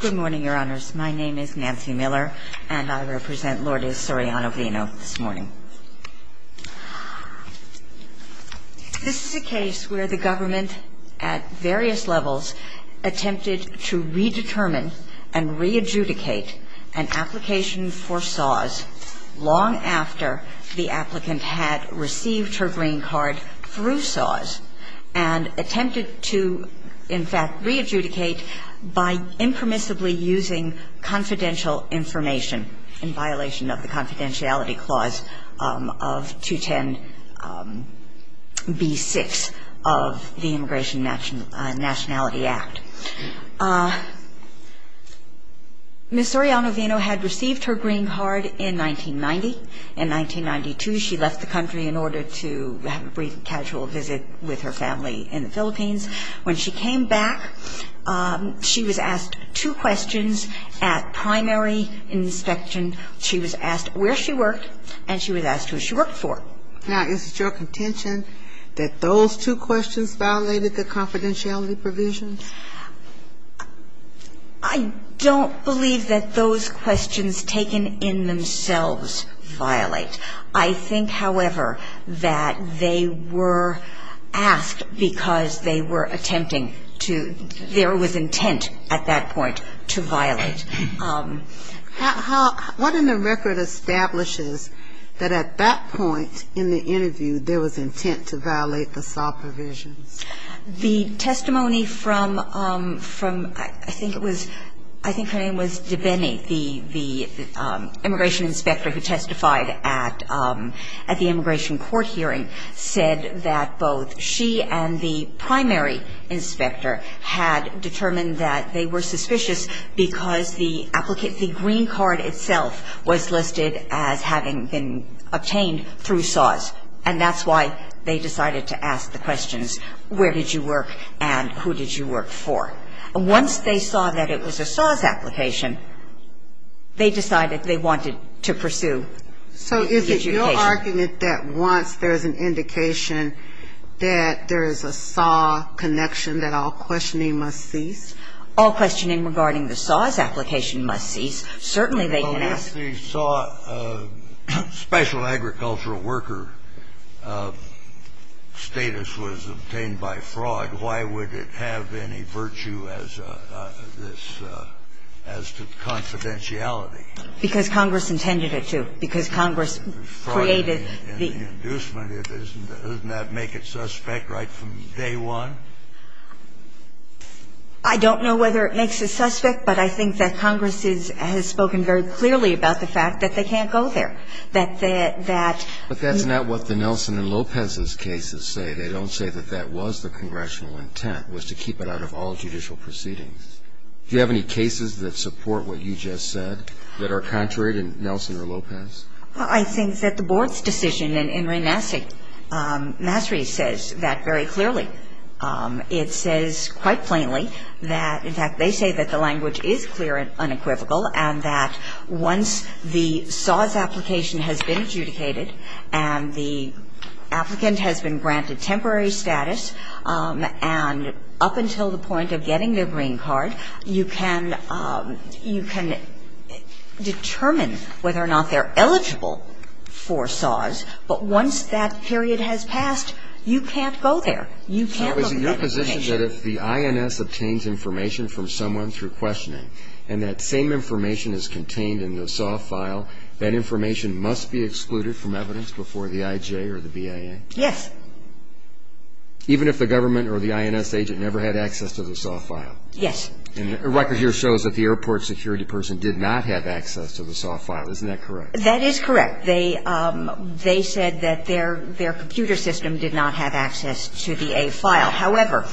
Good morning, Your Honors. My name is Nancy Miller, and I represent Lord Soriano-Vino this morning. This is a case where the government, at various levels, attempted to redetermine and re-adjudicate an application for SOZ long after the applicant had received her green card through SOZ and attempted to, in fact, re-adjudicate by impermissibly using confidential information in violation of the confidentiality clause of 210b-6 of the Immigration Nationality Act. Ms. Soriano-Vino had received her green card in 1990. In 1992, she left the country in order to have a brief casual visit with her family in the Philippines. When she came back, she was asked two questions at primary inspection. She was asked where she worked, and she was asked who she worked for. Now, is it your contention that those two questions violated the confidentiality provisions? I don't believe that those questions taken in themselves violate. I think, however, that they were asked because they were attempting to ‑‑ there was intent at that point to violate. What in the record establishes that at that point in the interview there was intent to violate the SOZ provisions? The testimony from ‑‑ I think it was ‑‑ I think her name was Debenney, the immigration inspector who testified at the immigration court hearing, said that both she and the primary inspector had determined that they were suspicious because the green card itself was listed as having been obtained through SOZ, and that's why they decided to ask the questions where did you work and who did you work for. And once they saw that it was a SOZ application, they decided they wanted to pursue ‑‑ So is it your argument that once there is an indication that there is a SOZ connection, that all questioning must cease? All questioning regarding the SOZ application must cease. Certainly they can ask ‑‑ Well, if they saw special agricultural worker status was obtained by fraud, why would it have any virtue as to confidentiality? Because Congress intended it to. Because Congress created the ‑‑ Fraud in the inducement, doesn't that make it suspect right from day one? I don't know whether it makes it suspect, but I think that Congress has spoken very clearly about the fact that they can't go there. That ‑‑ But that's not what the Nelson and Lopez's cases say. They don't say that that was the congressional intent, was to keep it out of all judicial proceedings. Do you have any cases that support what you just said that are contrary to Nelson or Lopez? I think that the board's decision in Reynasi, Masri says that very clearly. It says quite plainly that, in fact, they say that the language is clear and unequivocal and that once the SOZ application has been adjudicated and the applicant has been granted temporary status and up until the point of getting their green card, you can determine whether or not they're eligible for SOZ. But once that period has passed, you can't go there. You can't look at information. So is it your position that if the INS obtains information from someone through questioning and that same information is contained in the SOZ file, that information must be excluded from evidence before the IJ or the BIA? Yes. Even if the government or the INS agent never had access to the SOZ file? Yes. And the record here shows that the airport security person did not have access to the SOZ file. Isn't that correct? That is correct. They said that their computer system did not have access to the A file. However,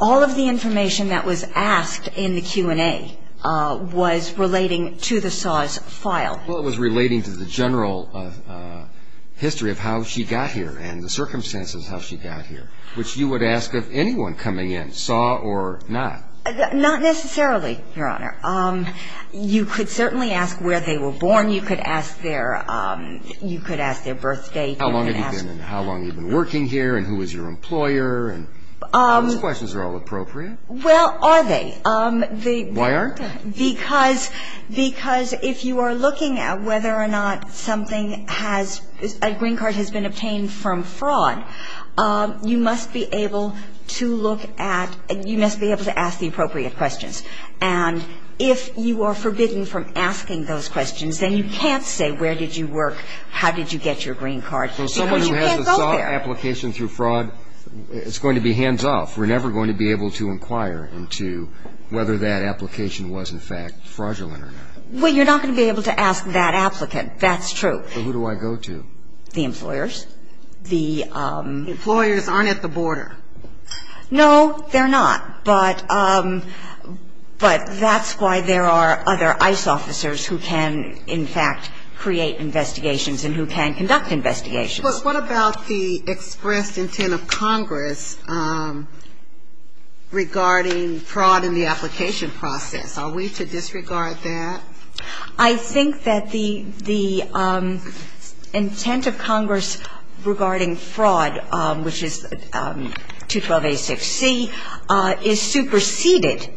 all of the information that was asked in the Q&A was relating to the SOZ file. Well, it was relating to the general history of how she got here and the circumstances of how she got here, which you would ask of anyone coming in, SOZ or not. Not necessarily, Your Honor. You could certainly ask where they were born. You could ask their birth date. How long have you been? And how long have you been working here? And who is your employer? And those questions are all appropriate. Well, are they? Why aren't they? Because if you are looking at whether or not something has, a green card has been obtained from fraud, you must be able to look at, you must be able to ask the appropriate questions. And if you are forbidding from asking those questions, then you can't say where did you work, how did you get your green card, because you can't go there. Well, someone who has a SOZ application through fraud, it's going to be hands-off. We're never going to be able to inquire into whether that application was, in fact, fraudulent or not. Well, you're not going to be able to ask that applicant. That's true. Well, who do I go to? The employers. The employers aren't at the border. No, they're not. But that's why there are other ICE officers who can, in fact, create investigations and who can conduct investigations. But what about the expressed intent of Congress regarding fraud in the application process? Are we to disregard that? I think that the intent of Congress regarding fraud, which is 212a6c, is superseded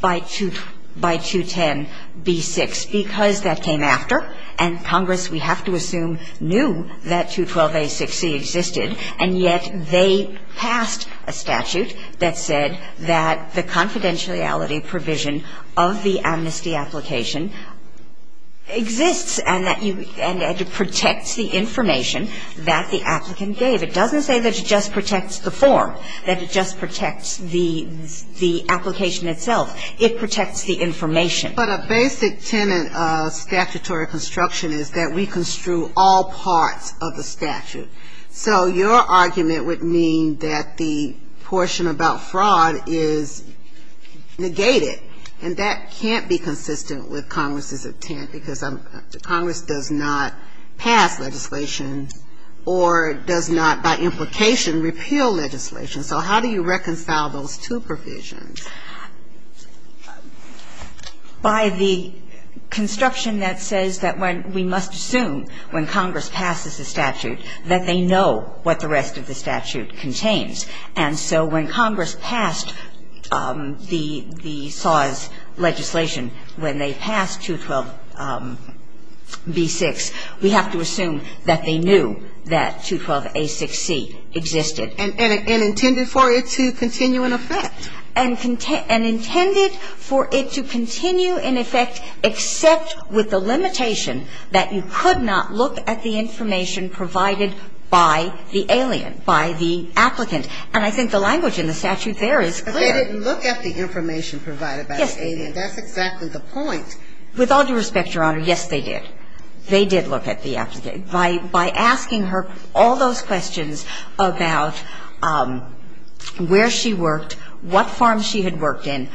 by 210b6, because that came after, and Congress, we have to assume, knew that 212a6c existed, and yet they passed a statute that said that the confidentiality provision of the amnesty application exists and that it protects the information that the applicant gave. It doesn't say that it just protects the form, that it just protects the application itself. It protects the information. But a basic tenet of statutory construction is that we construe all parts of the statute. So your argument would mean that the portion about fraud is negated, and that can't be consistent with Congress's intent, because Congress does not pass legislation or does not, by implication, repeal legislation. So how do you reconcile those two provisions? By the construction that says that we must assume when Congress passes the statute that they know what the rest of the statute contains. And so when Congress passed the SAWS legislation, when they passed 212b6, we have to assume that they knew that 212a6c existed. And intended for it to continue in effect. And intended for it to continue in effect, except with the limitation that you could not look at the information provided by the alien, by the applicant. And I think the language in the statute there is clear. But they didn't look at the information provided by the alien. Yes, they did. That's exactly the point. With all due respect, Your Honor, yes, they did. They did look at the applicant. By asking her all those questions about where she worked, what farms she had worked in,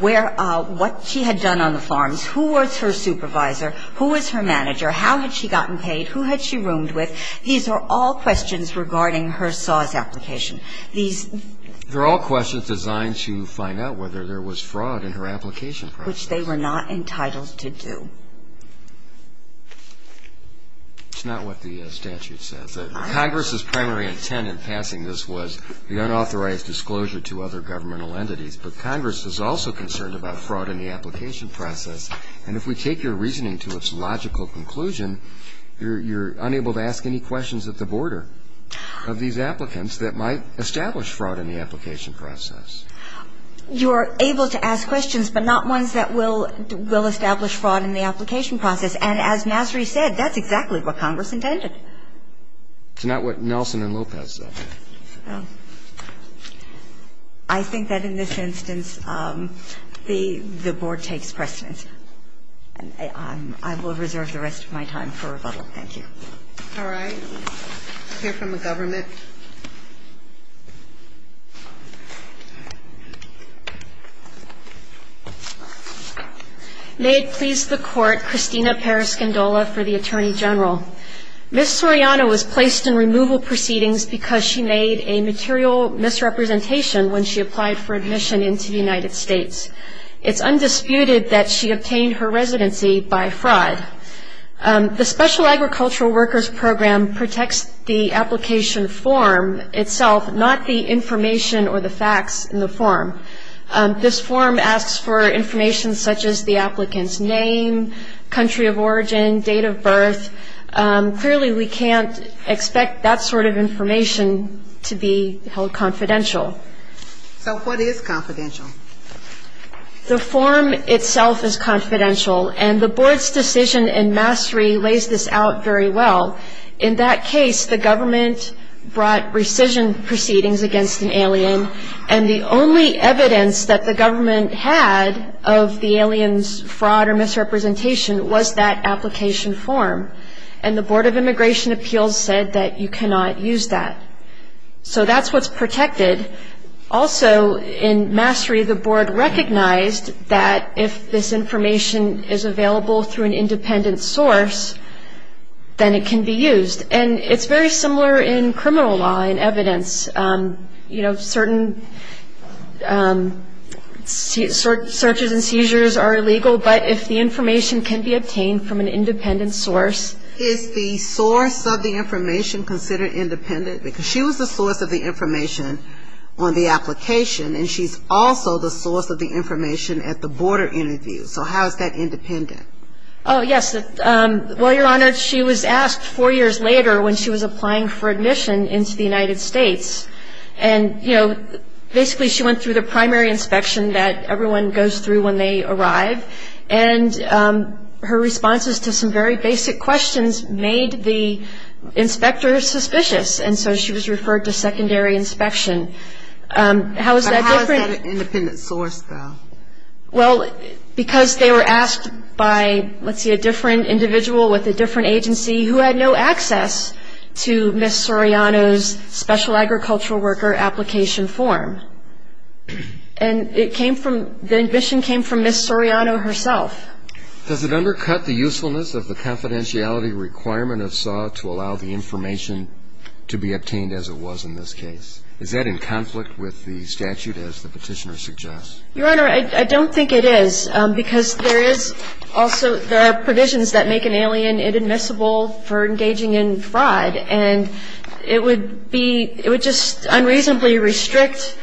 where – what she had done on the farms, who was her supervisor, who was her manager, how had she gotten paid, who had she roomed with. These are all questions regarding her SAWS application. These – They're all questions designed to find out whether there was fraud in her application process. Which they were not entitled to do. It's not what the statute says. Congress's primary intent in passing this was the unauthorized disclosure to other governmental entities. But Congress is also concerned about fraud in the application process. And if we take your reasoning to its logical conclusion, you're unable to ask any questions at the border of these applicants that might establish fraud in the application process. You're able to ask questions, but not ones that will establish fraud in the application process. And as Nasri said, that's exactly what Congress intended. It's not what Nelson and Lopez said. I think that in this instance, the Board takes precedence. I will reserve the rest of my time for rebuttal. Thank you. All right. We'll hear from the government. May it please the Court, Christina Periscindola for the Attorney General. Ms. Soriano was placed in removal proceedings because she made a material misrepresentation when she applied for admission into the United States. It's undisputed that she obtained her residency by fraud. The Special Agricultural Workers Program protects the application form itself, not the information or the facts in the form. This form asks for information such as the applicant's name, country of origin, date of birth, and so on. Clearly, we can't expect that sort of information to be held confidential. So what is confidential? The form itself is confidential, and the Board's decision in Nasri lays this out very well. In that case, the government brought rescission proceedings against an alien, and the only evidence that the government had of the alien's fraud or misrepresentation was that application form. And the Board of Immigration Appeals said that you cannot use that. So that's what's protected. Also, in Nasri, the Board recognized that if this information is available through an independent source, then it can be used. And it's very similar in criminal law and evidence. You know, certain searches and seizures are illegal, but if the information can be obtained from an independent source. Is the source of the information considered independent? Because she was the source of the information on the application, and she's also the source of the information at the border interview. So how is that independent? Oh, yes. Well, Your Honor, she was asked four years later when she was applying for admission into the United States, and, you know, basically she went through the primary inspection that everyone goes through when they arrive. And her responses to some very basic questions made the inspectors suspicious. And so she was referred to secondary inspection. How is that different? But how is that an independent source, though? Well, because they were asked by, let's see, a different individual with a different agency who had no access to Ms. Soriano's special agricultural worker application form. And it came from, the admission came from Ms. Soriano herself. Does it undercut the usefulness of the confidentiality requirement of SAW to allow the information to be obtained as it was in this case? Is that in conflict with the statute as the Petitioner suggests? Your Honor, I don't think it is, because there is also, there are provisions that make an alien inadmissible for engaging in fraud, and it would be, it would just unreasonably restrict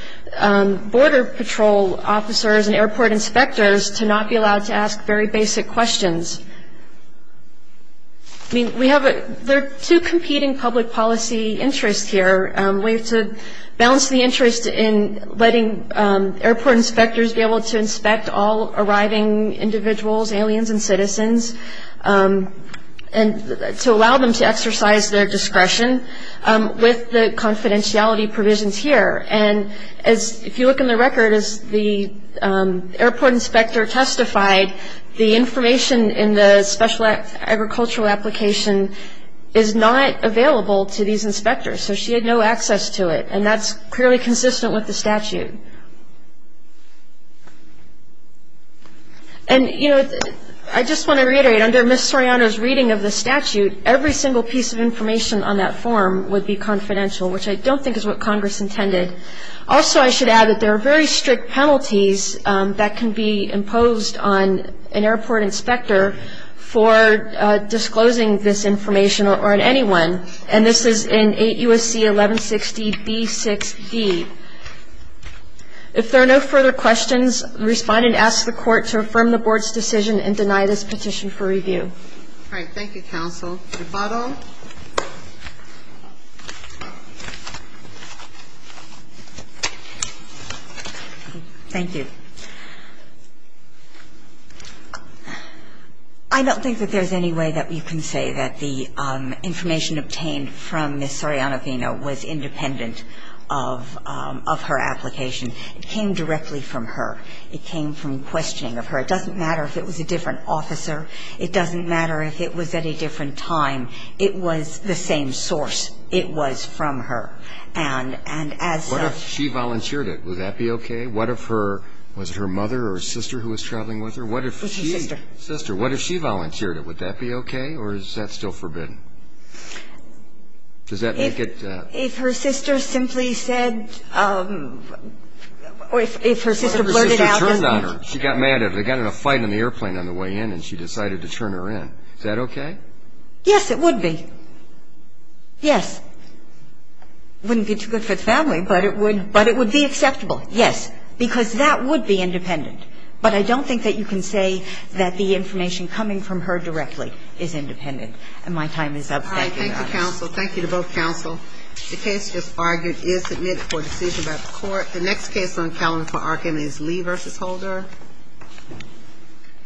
border patrol officers and airport inspectors to not be allowed to ask very basic questions. I mean, we have a, there are two competing public policy interests here. We have to balance the interest in letting airport inspectors be able to inspect all arriving individuals, aliens and citizens, and to allow them to exercise their discretion with the confidentiality provisions here. And as, if you look in the record, as the airport inspector testified, the information in the special agricultural application is not available to these inspectors. So she had no access to it, and that's clearly consistent with the statute. And, you know, I just want to reiterate, under Ms. Soriano's reading of the statute, every single piece of information on that form would be confidential, which I don't think is what Congress intended. Also, I should add that there are very strict penalties that can be imposed on an airport inspector for disclosing this information or on anyone, and this is in 8 U.S.C. 1160b6d. If there are no further questions, respond and ask the Court to affirm the Board's decision and deny this petition for review. All right. Thank you, counsel. Rebuttal. Thank you. I don't think that there's any way that we can say that the information obtained from Ms. Soriano-Vino was independent of her application. It came directly from her. It came from questioning of her. It doesn't matter if it was a different officer. It doesn't matter if it was at a different time. It was the same source. It was from her. And as a ---- What if she volunteered it? Would that be okay? What if her ---- was it her mother or sister who was traveling with her? It was her sister. Sister. What if she volunteered it? Would that be okay, or is that still forbidden? Does that make it ---- If her sister simply said or if her sister blurted out ---- What if her sister turned on her? She got mad at her. They got in a fight on the airplane on the way in, and she decided to turn her in. Is that okay? Yes, it would be. Yes. It wouldn't be too good for the family, but it would be acceptable. Yes. Because that would be independent. But I don't think that you can say that the information coming from her directly is independent. And my time is up. Thank you, Your Honor. All right. Thank you, counsel. Thank you to both counsel. The case just argued is submitted for decision by the court. The next case on calendar for argument is Lee v. Holder.